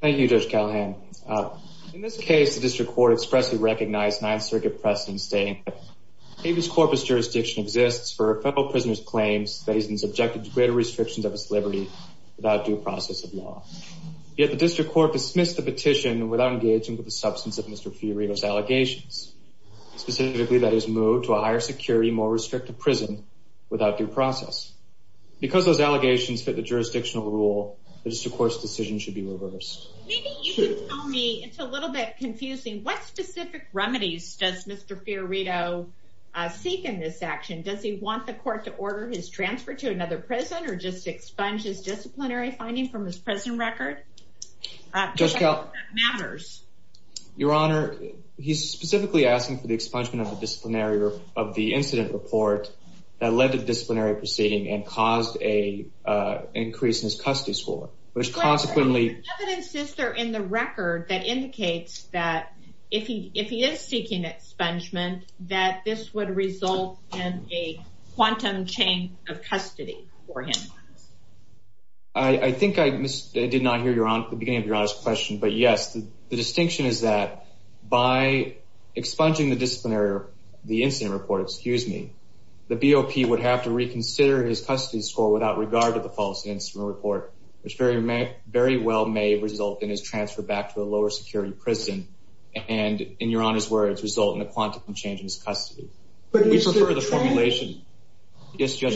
Thank you, Judge Callahan. In this case, the district court expressly recognized Ninth Circuit precedent stating that Davis Corpus jurisdiction exists for federal prisoners' claims that he's been subjected to greater restrictions of his liberty without due process of law. Yet the district court dismissed the petition without engaging with the substance of Mr. Fiorito's allegations, specifically that he's moved to a higher security, more restrictive prison without due process. Because those allegations fit the jurisdictional rule, the district court's decision should be reversed. Maybe you can tell me, it's a little bit confusing, what specific remedies does Mr. Fiorito seek in this action? Does he want the court to order his transfer to another prison or just expunge his disciplinary finding from his prison record? Judge Callahan, your Honor, he's specifically asking for the expungement of the disciplinary of the incident report that led to disciplinary proceeding and caused an increase in his custody score, which consequently... Judge Callahan, is there evidence in the record that indicates that if he is seeking expungement, that this would result in a quantum change of custody for him? Judge Callahan, I think I did not hear the beginning of your Honor's question. But yes, the distinction is that by expunging the disciplinary, the incident report, excuse me, the BOP would have to reconsider his custody score without regard to the false incident report, which very well may result in his transfer back to a lower security prison and, in your Honor's words, result in a quantum change in his custody. We prefer the formulation. But is the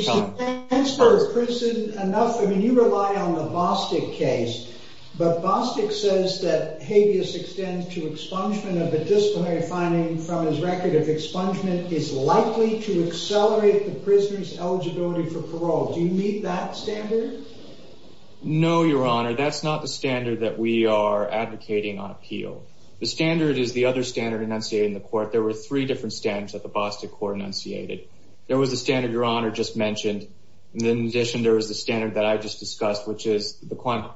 transfer to prison enough? I mean, you rely on the Bostic case, but Bostic says that habeas extends to expungement of a disciplinary finding from his record if expungement is likely to accelerate the prisoner's eligibility for parole. Do you meet that standard? No, your Honor. That's not the standard that we are advocating on appeal. The standard is the other standard enunciated in the court. There were three different standards that the Bostic court enunciated. There was the standard your Honor just mentioned. In addition, there was the standard that I just discussed, which is the quantum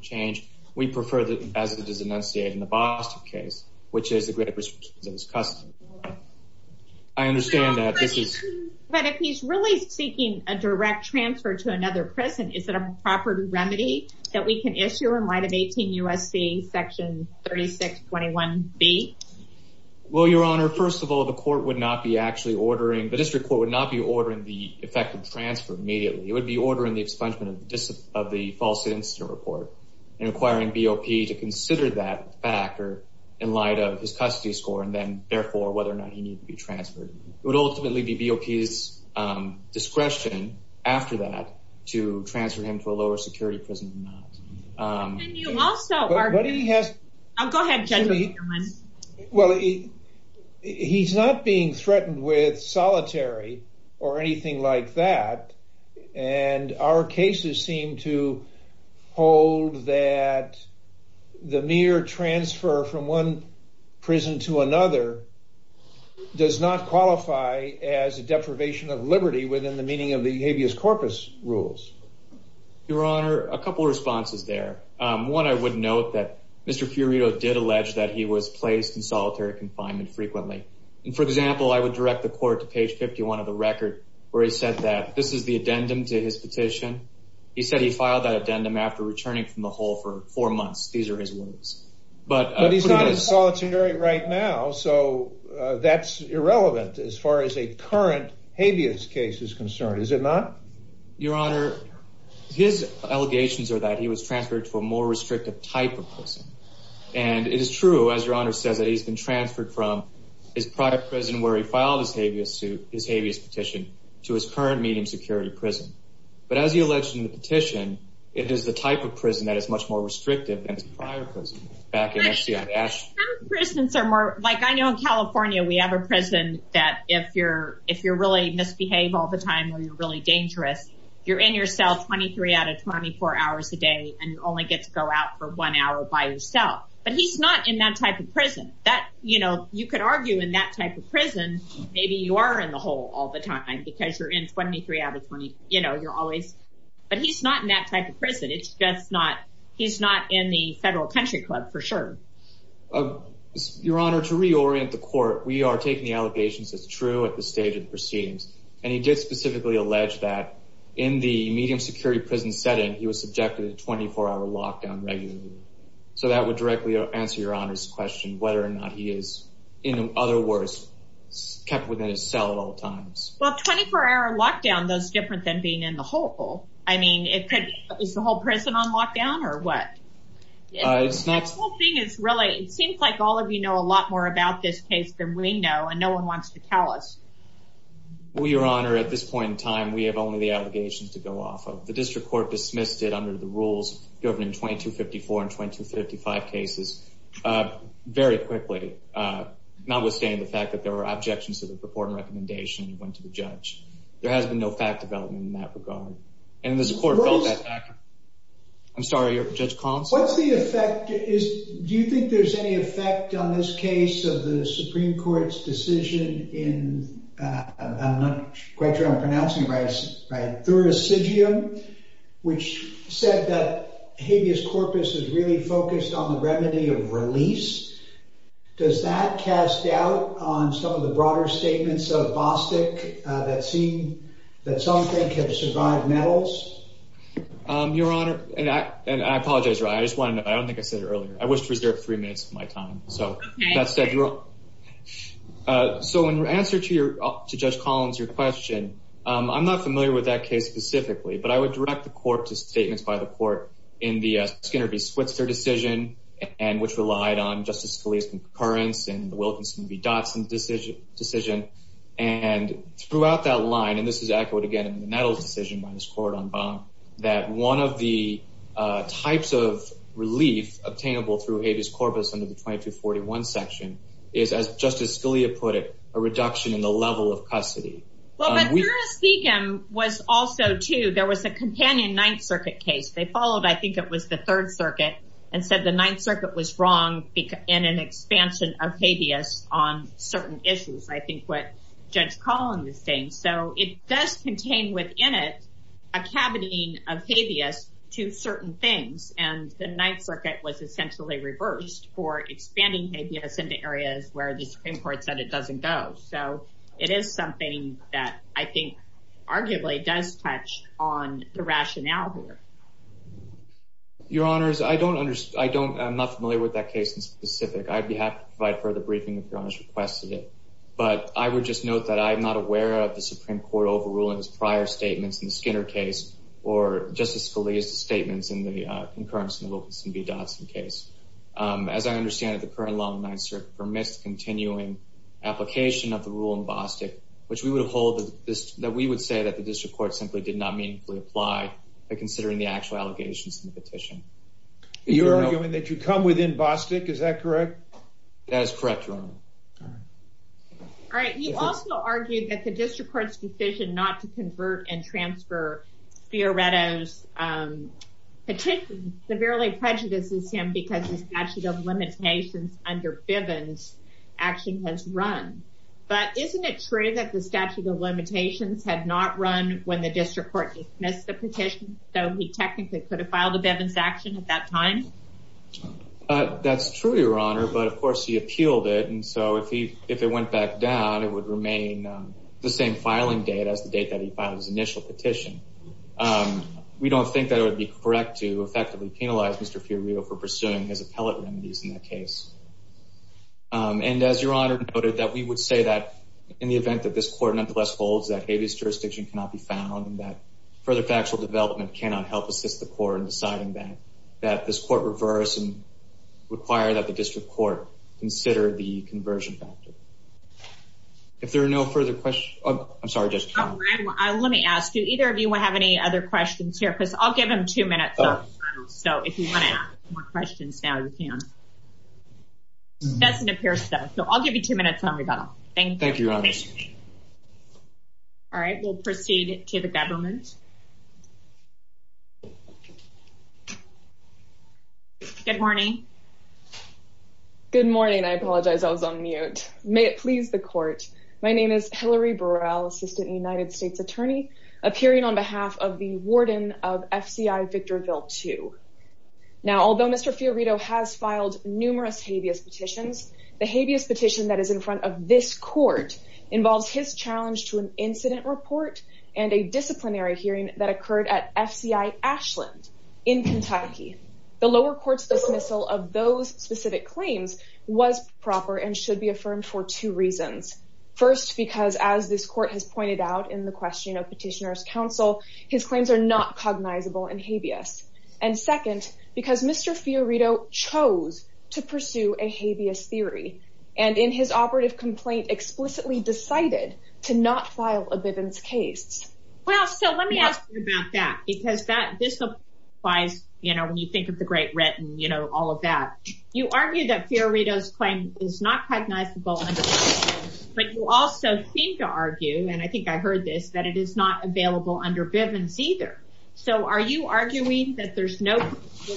change. We prefer that as it is enunciated in the Bostic case, which is a great risk to his custody. I understand that this is... But if he's really seeking a direct transfer to another prison, is it a proper remedy that we can issue in light of 18 U.S.C. section 3621B? Well, your Honor, first of all, the court would not be actually ordering, the district court would not be ordering the effective transfer immediately. It would be ordering the expungement of the false incident report and requiring BOP to consider that factor in light of his custody score and then therefore whether or not he needs to be transferred. It would ultimately be BOP's discretion after that to transfer him to a lower security prison or not. But can you also argue... But he has... Oh, go ahead, judge. Well, he's not being threatened with solitary or anything like that. And our cases seem to hold that the mere transfer from one prison to another does not qualify as a deprivation of liberty within the meaning of the habeas corpus rules. Your Honor, a couple of responses there. One, I would note that Mr. Furido did allege that he was placed in solitary confinement frequently. And for example, I would direct the court to page 51 of the record where he said that this is the addendum to his petition. He said he filed that addendum after returning from the hole for four months. These are his words. But he's not in solitary right now, so that's irrelevant as far as a current habeas case is concerned, is it not? Your Honor, his allegations are that he was transferred to a more restrictive type of prison. And it is true, as Your Honor says, that he's been transferred from his prior prison where he filed his habeas petition to his current medium security prison. But as he alleged in the petition, it is the type of prison that is much more restrictive than his prior prison back in NCI. Some prisons are more, like I know in California we have a prison that if you're really misbehave all the time or you're really dangerous, you're in your cell 23 out of 24 hours a day and only get to go out for one hour by yourself. But he's not in that type of prison. You could argue in that type of prison, maybe you are in the hole all the time because you're in 23 out of 24, you know, you're always, but he's not in that type of prison. It's just not, he's not in the federal country club for sure. Your Honor, to reorient the court, we are taking the allegations as true at the stage of the proceedings. And he did specifically allege that in the medium security prison setting, he was subjected to 24 hour lockdown regularly. So that would directly answer Your Honor's question whether or not he is, in other words, kept within his cell at all times. Well, 24 hour lockdown, that's different than being in the hole. I mean, it could, is the whole prison on lockdown or what? It's not. The whole thing is really, it seems like all of you know a lot more about this case than we know, and no one wants to tell us. Well, Your Honor, at this point in time, we have only the allegations to go off of. The district court dismissed it under the rules governing 2254 and 2255 cases very quickly. Notwithstanding the fact that there were objections to the purported recommendation that went to the judge. There has been no fact development in that regard. And the court felt that fact. I'm sorry, Judge Collins. What's the effect? Do you think there's any effect on this case of the Supreme Court's decision in, I'm not quite sure I'm pronouncing it right, thuracidium, which said that habeas corpus is really focused on the remedy of release. Does that cast doubt on some of the broader statements of Bostic that seem that something can survive metals? Your Honor, and I apologize. I just want to know. I don't think I said it earlier. I wish to reserve three minutes of my time. So that said, so in answer to your, to Judge Collins, your question, I'm not familiar with that case specifically, but I would direct the court to statements by the court in the Skinner v. Switzer decision, and which relied on Justice Scalia's concurrence and the Wilkins v. Dotson decision. And throughout that line, and this is echoed again in the Nettles decision by this court on bond, that one of the types of relief obtainable through habeas corpus under the 2241 section is, as Justice Scalia put it, a reduction in the level of custody. Well, but thuracidium was also too. There was a companion Ninth Circuit case. They followed, I think it was the Third Circuit, and said the Ninth Circuit was wrong in an expansion of habeas on certain issues. I think what Judge Collins is saying. So it does contain within it a cavity of habeas to certain things, and the Ninth Circuit was essentially reversed for expanding habeas into areas where the Supreme Court said it doesn't go. So it is something that I think arguably does touch on the rationale here. Your Honors, I don't understand. I don't, I'm not familiar with that case in specific. I'd be happy to provide further briefing if Your Honors requested it, but I would just note that I'm not aware of the Supreme Court overruling his prior statements in the Skinner case or Justice Scalia's statements in the concurrence and Wilkins v. Dotson case. As I understand it, the current law in the Ninth Circuit permits the continuing application of the rule in Bostick, which we would hold that we would say that the district court simply did not meaningfully apply by considering the actual allegations in the petition. You're arguing that you come within Bostick, is that correct? That is correct, Your Honor. All right. You also argued that the district court's decision not to convert and transfer Fioretto's petition severely prejudices him because the statute of limitations under Bivens' action has run. But isn't it true that the statute of limitations had not run when the district court dismissed the petition, though he technically could have filed a Bivens' action at that time? That's true, Your Honor, but of course he appealed it, and so if it went back down, it would remain the same filing date as the date that he filed his initial petition. We don't think that it would be correct to effectively penalize Mr. Fioretto for pursuing his appellate remedies in that case. And as Your Honor noted, that we would say that in the event that this court nonetheless holds that Habeas jurisdiction cannot be found and that further factual development cannot help assist the court in deciding that this court reverse and require that the district court consider the conversion factor. If there are no further questions, I'm sorry, Judge. Let me ask you, either of you have any other questions here, because I'll give him two minutes, so if you want to ask more questions now, you can. It doesn't appear so, so I'll give you two minutes on rebuttal. Thank you. Thank you, Your Honor. All right, we'll proceed to the government. Good morning. Good morning. I apologize, I was on mute. May it please the court. My name is Hillary Burrell, Assistant United States Attorney, appearing on behalf of the Warden of FCI Victorville II. Now, although Mr. Fioretto has filed numerous Habeas petitions, the Habeas petition that is in this court involves his challenge to an incident report and a disciplinary hearing that occurred at FCI Ashland in Kentucky. The lower court's dismissal of those specific claims was proper and should be affirmed for two reasons. First, because as this court has pointed out in the question of petitioner's counsel, his claims are not cognizable in Habeas. And second, because Mr. Fioretto chose to pursue a Habeas theory and in his operative complaint explicitly decided to not file a Bivens case. Well, so let me ask you about that, because this applies, you know, when you think of the Great Writ and, you know, all of that. You argue that Fioretto's claim is not cognizable, but you also seem to argue, and I think I heard this, that it is not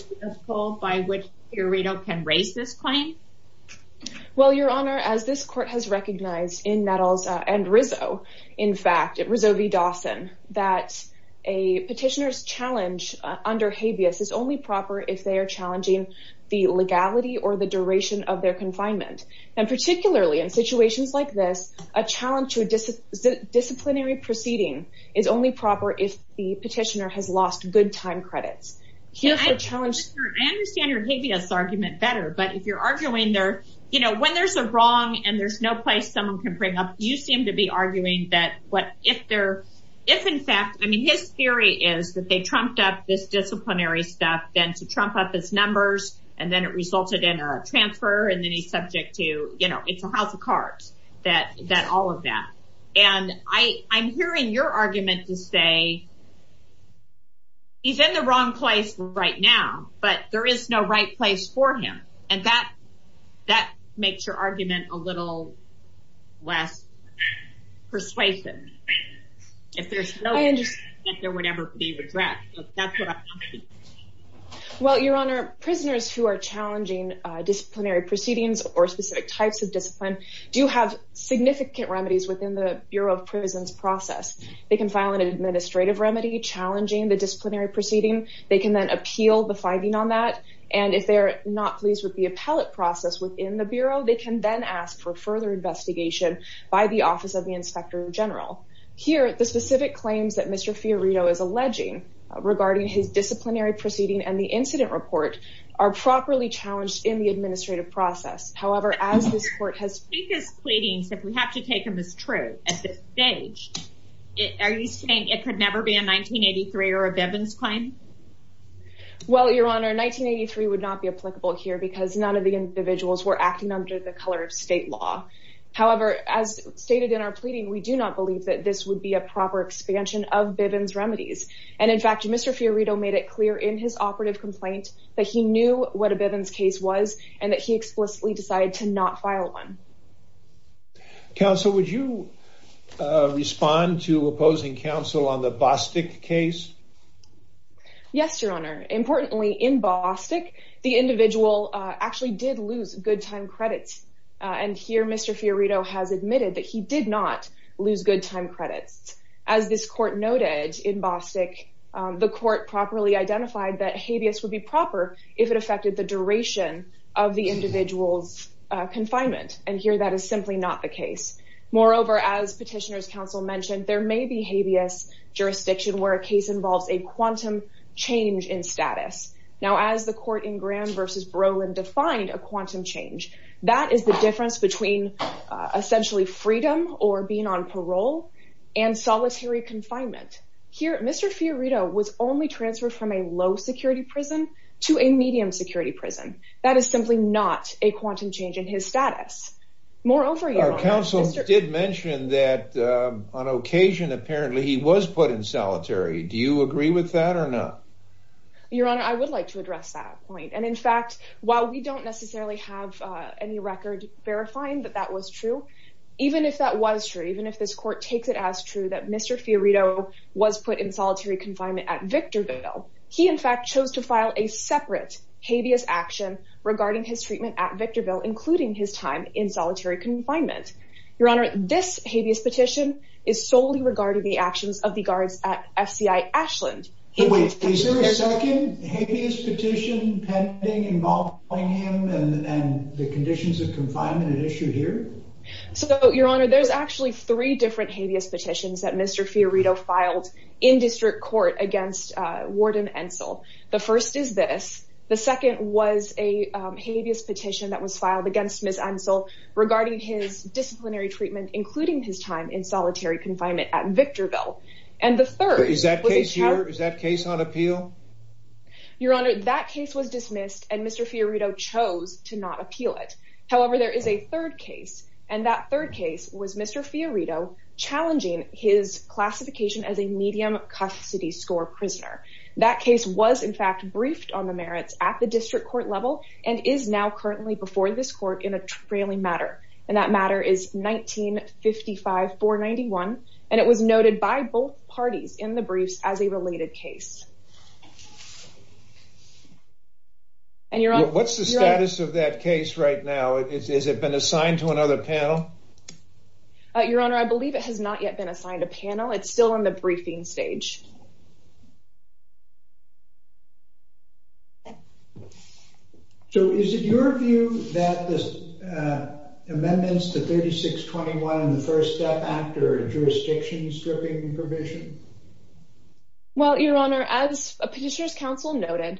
possible by which Fioretto can raise this claim? Well, Your Honor, as this court has recognized in Nettles and Rizzo, in fact, Rizzo v. Dawson, that a petitioner's challenge under Habeas is only proper if they are challenging the legality or the duration of their confinement. And particularly in situations like this, a challenge to a disciplinary proceeding is only proper if the petitioner has lost good time credits. I understand your Habeas argument better, but if you're arguing there, you know, when there's a wrong and there's no place someone can bring up, you seem to be arguing that what, if there, if in fact, I mean, his theory is that they trumped up this disciplinary stuff, then to trump up its numbers, and then it resulted in a transfer and then he's subject to, you know, it's a house of cards, that all of that. And I'm hearing your argument to say, he's in the wrong place right now, but there is no right place for him. And that, that makes your argument a little less persuasive. If there's no, there would never be regret. Well, Your Honor, prisoners who are challenging disciplinary proceedings or specific types of discipline do have significant remedies within the Bureau of Prisons process. They can file an administrative remedy challenging the disciplinary proceeding. They can then appeal the finding on that. And if they're not pleased with the appellate process within the Bureau, they can then ask for further investigation by the Office of the Inspector General. Here, the specific claims that Mr. Fiorito is alleging regarding his disciplinary proceeding and the incident report are properly challenged in the administrative process. However, as this court has... If his pleadings, if we have to take them as true at this stage, are you saying it could never be a 1983 or a Bivens claim? Well, Your Honor, 1983 would not be applicable here because none of the individuals were acting under the color of state law. However, as stated in our pleading, we do not believe that this would be a proper expansion of Bivens remedies. And in fact, Mr. Fiorito made it clear in his operative complaint that he knew what a Bivens case was and that he explicitly decided to not file one. Counsel, would you respond to opposing counsel on the Bostic case? Yes, Your Honor. Importantly, in Bostic, the individual actually did lose good time credits. And here, Mr. Fiorito has admitted that he did not lose good time credits. As this court noted in Bostic, the court properly identified that habeas would be proper if it affected the duration of the individual's confinement. And here, that is simply not the case. Moreover, as Petitioner's Counsel mentioned, there may be habeas jurisdiction where a case involves a quantum change in status. Now, as the court in Graham versus Brolin defined a quantum change, that is the difference between essentially freedom or being on parole and solitary confinement. Here, Mr. Fiorito was only transferred from a low security prison to a medium security prison. That is simply not a quantum change in his status. Moreover, your counsel did mention that on occasion, apparently he was put in solitary. Do you agree with that or not? Your Honor, I would like to address that point. And in fact, while we don't necessarily have any record verifying that that was true, even if that was true, even if this court takes it as true that Mr. Fiorito was put in solitary confinement at Victorville, he in fact chose to file a separate habeas action regarding his treatment at Victorville, including his time in solitary confinement. Your Honor, this habeas petition is solely and the conditions of confinement at issue here. So, Your Honor, there's actually three different habeas petitions that Mr. Fiorito filed in district court against Warden Ensel. The first is this. The second was a habeas petition that was filed against Ms. Ensel regarding his disciplinary treatment, including his time in solitary confinement at Victorville. And the third is that case here. Is that case on appeal? Your Honor, that case was dismissed. And Mr. Fiorito chose to not appeal it. However, there is a third case. And that third case was Mr. Fiorito challenging his classification as a medium custody score prisoner. That case was, in fact, briefed on the merits at the district court level and is now currently before this court in a trailing matter. And that matter is 1955-491. And it was noted by both parties in the briefs as a related case. What's the status of that case right now? Has it been assigned to another panel? Your Honor, I believe it has not yet been assigned a panel. It's still in the briefing stage. So is it your view that the amendments to 3621 in the first step after jurisdiction stripping provision? Well, Your Honor, as a petitioner's counsel noted,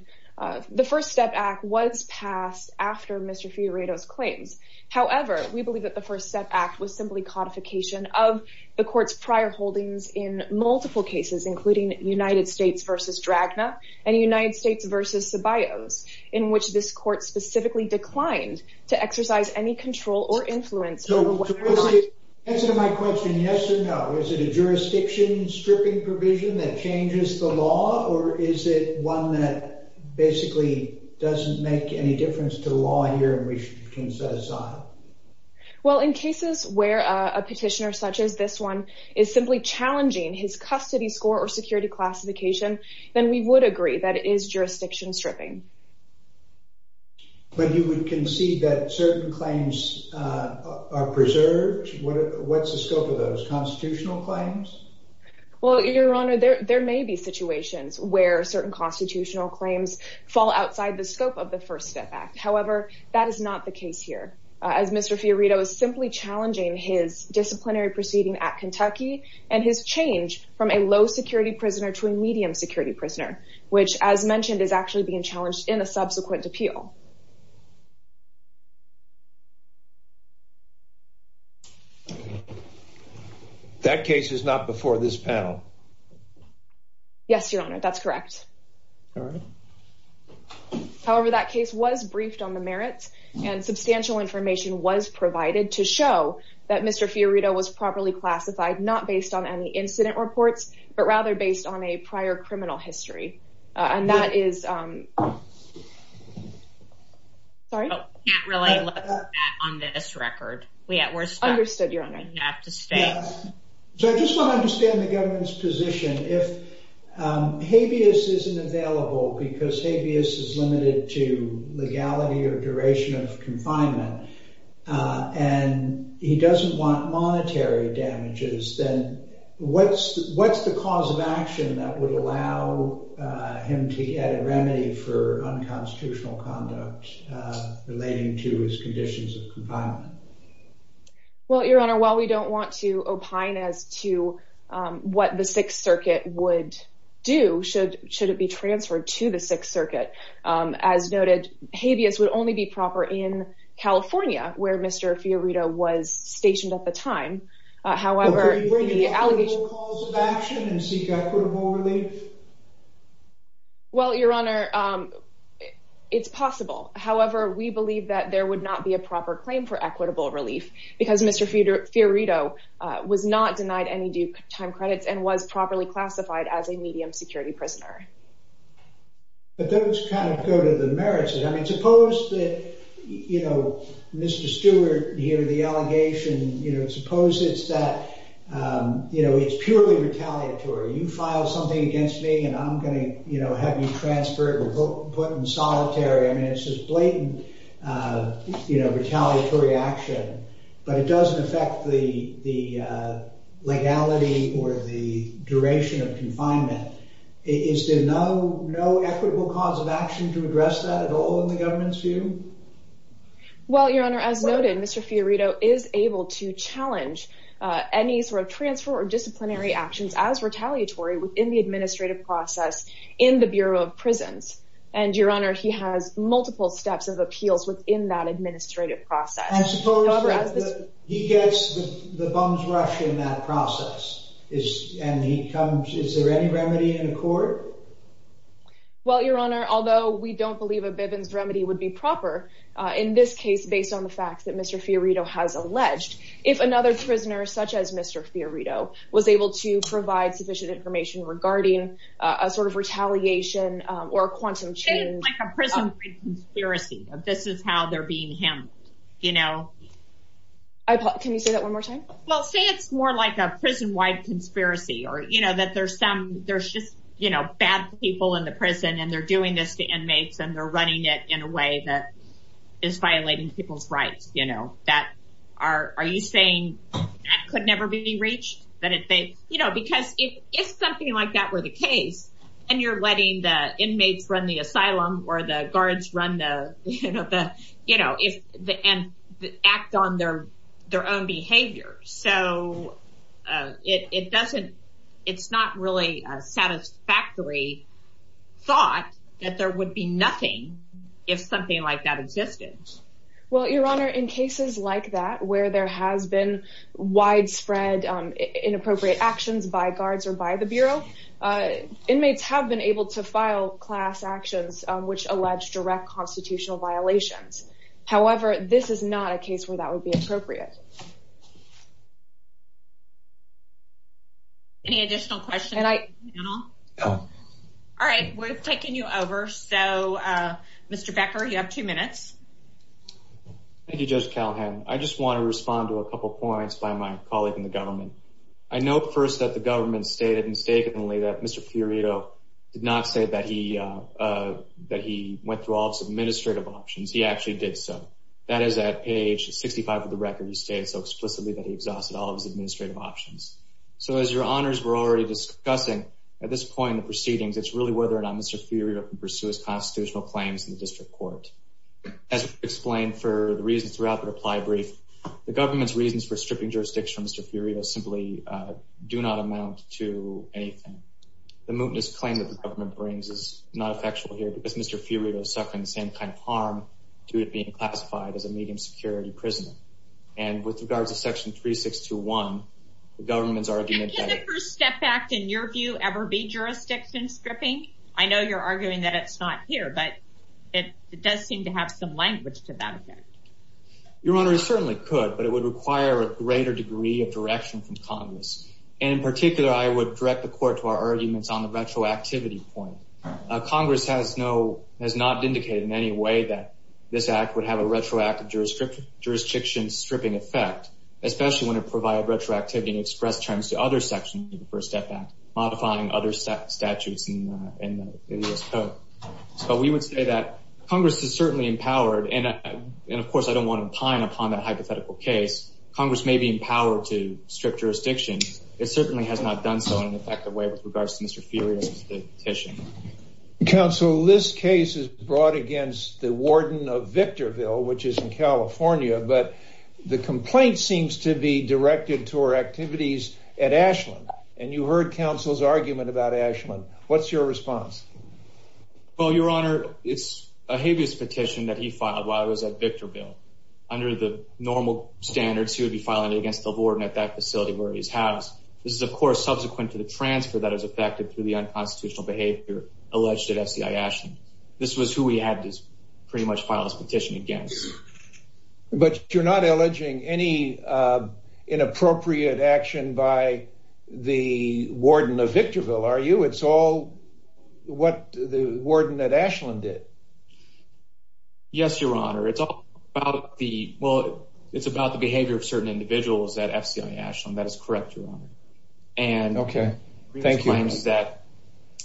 the first step act was passed after Mr. Fiorito's claims. However, we believe that the first step act was simply codification of the court's prior holdings in multiple cases, including United States v. Dragna and United States v. Ceballos, in which this court specifically declined to exercise any control or influence over what went on. So to answer my question, yes or no, is it a jurisdiction stripping provision that changes the law, or is it one that basically doesn't make any difference to law here in which you can set aside? Well, in cases where a petitioner such as this one is simply challenging his custody score or security classification, then we would agree that it is jurisdiction stripping. But you would concede that certain claims are preserved? What's the scope of those, constitutional claims? Well, Your Honor, there may be situations where certain constitutional claims fall outside the scope of the first step act. However, that is not the case here, as Mr. Fiorito is simply challenging his disciplinary proceeding at Kentucky and his change from a low-security prisoner to a medium-security prisoner, which, as mentioned, is actually being challenged in a subsequent appeal. That case is not before this panel? Yes, Your Honor, that's correct. However, that case was briefed on the merits, and substantial information was provided to show that Mr. Fiorito was properly classified, not based on any incident reports, but rather based on a prior criminal history. I just want to understand the government's position. If habeas isn't available because habeas is limited to legality or duration of confinement, and he doesn't want monetary damages, then what's the cause of action that would allow him to get a remedy for unconstitutional conduct relating to his conditions of confinement? Well, Your Honor, while we don't want to opine as to what the Sixth Circuit would do, should it be where Mr. Fiorito was stationed at the time, however... Well, Your Honor, it's possible. However, we believe that there would not be a proper claim for equitable relief because Mr. Fiorito was not denied any due time credits and was properly classified as a medium-security prisoner. But those kind of go to the merits. I mean, suppose that, you know, Mr. Stewart, here, the allegation, you know, suppose it's that, you know, it's purely retaliatory. You file something against me, and I'm going to, you know, have you transferred or put in solitary. I mean, it's just blatant, you know, retaliatory action, but it doesn't affect the legality or the duration of confinement. Is there no equitable cause of action to address that at all in the government's view? Well, Your Honor, as noted, Mr. Fiorito is able to challenge any sort of transfer or disciplinary actions as retaliatory within the administrative process in the Bureau of Prisons. And, Your Honor, he has multiple steps of appeals within that administrative process. And suppose that he gets the bums rush in that process, and he comes, is there any remedy in court? Well, Your Honor, although we don't believe a Bivens remedy would be proper, in this case, based on the facts that Mr. Fiorito has alleged, if another prisoner, such as Mr. Fiorito, was able to provide sufficient information regarding a sort of retaliation or a quantum change. It's like a prison conspiracy. This is how they're being framed, you know. Can you say that one more time? Well, say it's more like a prison-wide conspiracy, or, you know, that there's some, there's just, you know, bad people in the prison, and they're doing this to inmates, and they're running it in a way that is violating people's rights, you know. Are you saying that could never be reached? You know, because if something like that were the case, and you're letting the inmates run the asylum, or the guards run the, you know, and act on their own behavior, so it doesn't, it's not really a satisfactory thought that there would be nothing if something like that existed. Well, Your Honor, in cases like that, where there has been widespread inappropriate actions by guards or by the Bureau, inmates have been able to file class actions which allege direct constitutional violations. However, this is not a case where that would be appropriate. Any additional questions? All right, we're taking you over. So, Mr. Becker, you have two minutes. Thank you, Judge Calhoun. I just want to respond to a couple points by my colleague in the that Mr. Fiorito did not say that he went through all of his administrative options. He actually did so. That is, at page 65 of the record, he stated so explicitly that he exhausted all of his administrative options. So, as Your Honors were already discussing, at this point in the proceedings, it's really whether or not Mr. Fiorito can pursue his constitutional claims in the district court. As explained for the reasons throughout the reply brief, the government's reasons for the mootness claim that the government brings is not effectual here because Mr. Fiorito is suffering the same kind of harm due to being classified as a medium security prisoner. And with regards to section 3621, the government's argument... Can't the First Step Act, in your view, ever be jurisdiction stripping? I know you're arguing that it's not here, but it does seem to have some language to that effect. Your Honor, it certainly could, but it would require a greater degree of direction from Congress. And in particular, I would direct the Court to our arguments on the retroactivity point. Congress has not indicated in any way that this act would have a retroactive jurisdiction stripping effect, especially when it provided retroactivity and expressed terms to other sections of the First Step Act, modifying other statutes in the U.S. Code. But we would say that Congress is certainly empowered, and of course, I don't power to strip jurisdiction. It certainly has not done so in an effective way with regards to Mr. Fiorito's petition. Counsel, this case is brought against the warden of Victorville, which is in California, but the complaint seems to be directed to our activities at Ashland. And you heard counsel's argument about Ashland. What's your response? Well, Your Honor, it's a habeas petition that he filed while I was at Victorville. Under the normal standards, he would be filing it against the warden at that facility where he's housed. This is, of course, subsequent to the transfer that is affected through the unconstitutional behavior alleged at FCI Ashland. This was who we had to pretty much file this petition against. But you're not alleging any inappropriate action by the warden of Victorville, are you? It's all what the warden at Ashland did. Yes, Your Honor. It's all about the, well, it's about the behavior of certain individuals at FCI Ashland. That is correct, Your Honor. Okay, thank you. And it claims that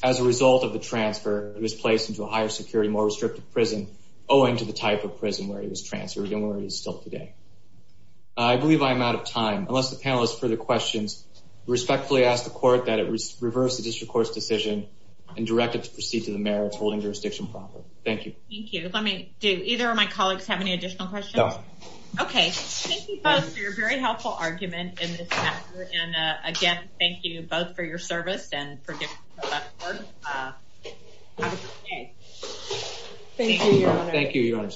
as a result of the transfer, it was placed into a higher security, more restrictive prison, owing to the type of prison where he was transferred and where he is still today. I believe I am out of time. Unless the panelists have further questions, I respectfully ask the court that it reverse the district court's decision and direct it to proceed to the mayor holding jurisdiction proper. Thank you. Thank you. Let me, do either of my colleagues have any additional questions? No. Okay, thank you both for your very helpful argument in this matter. And again, thank you both for your service and for Thank you, Your Honor. Thank you, Your Honor.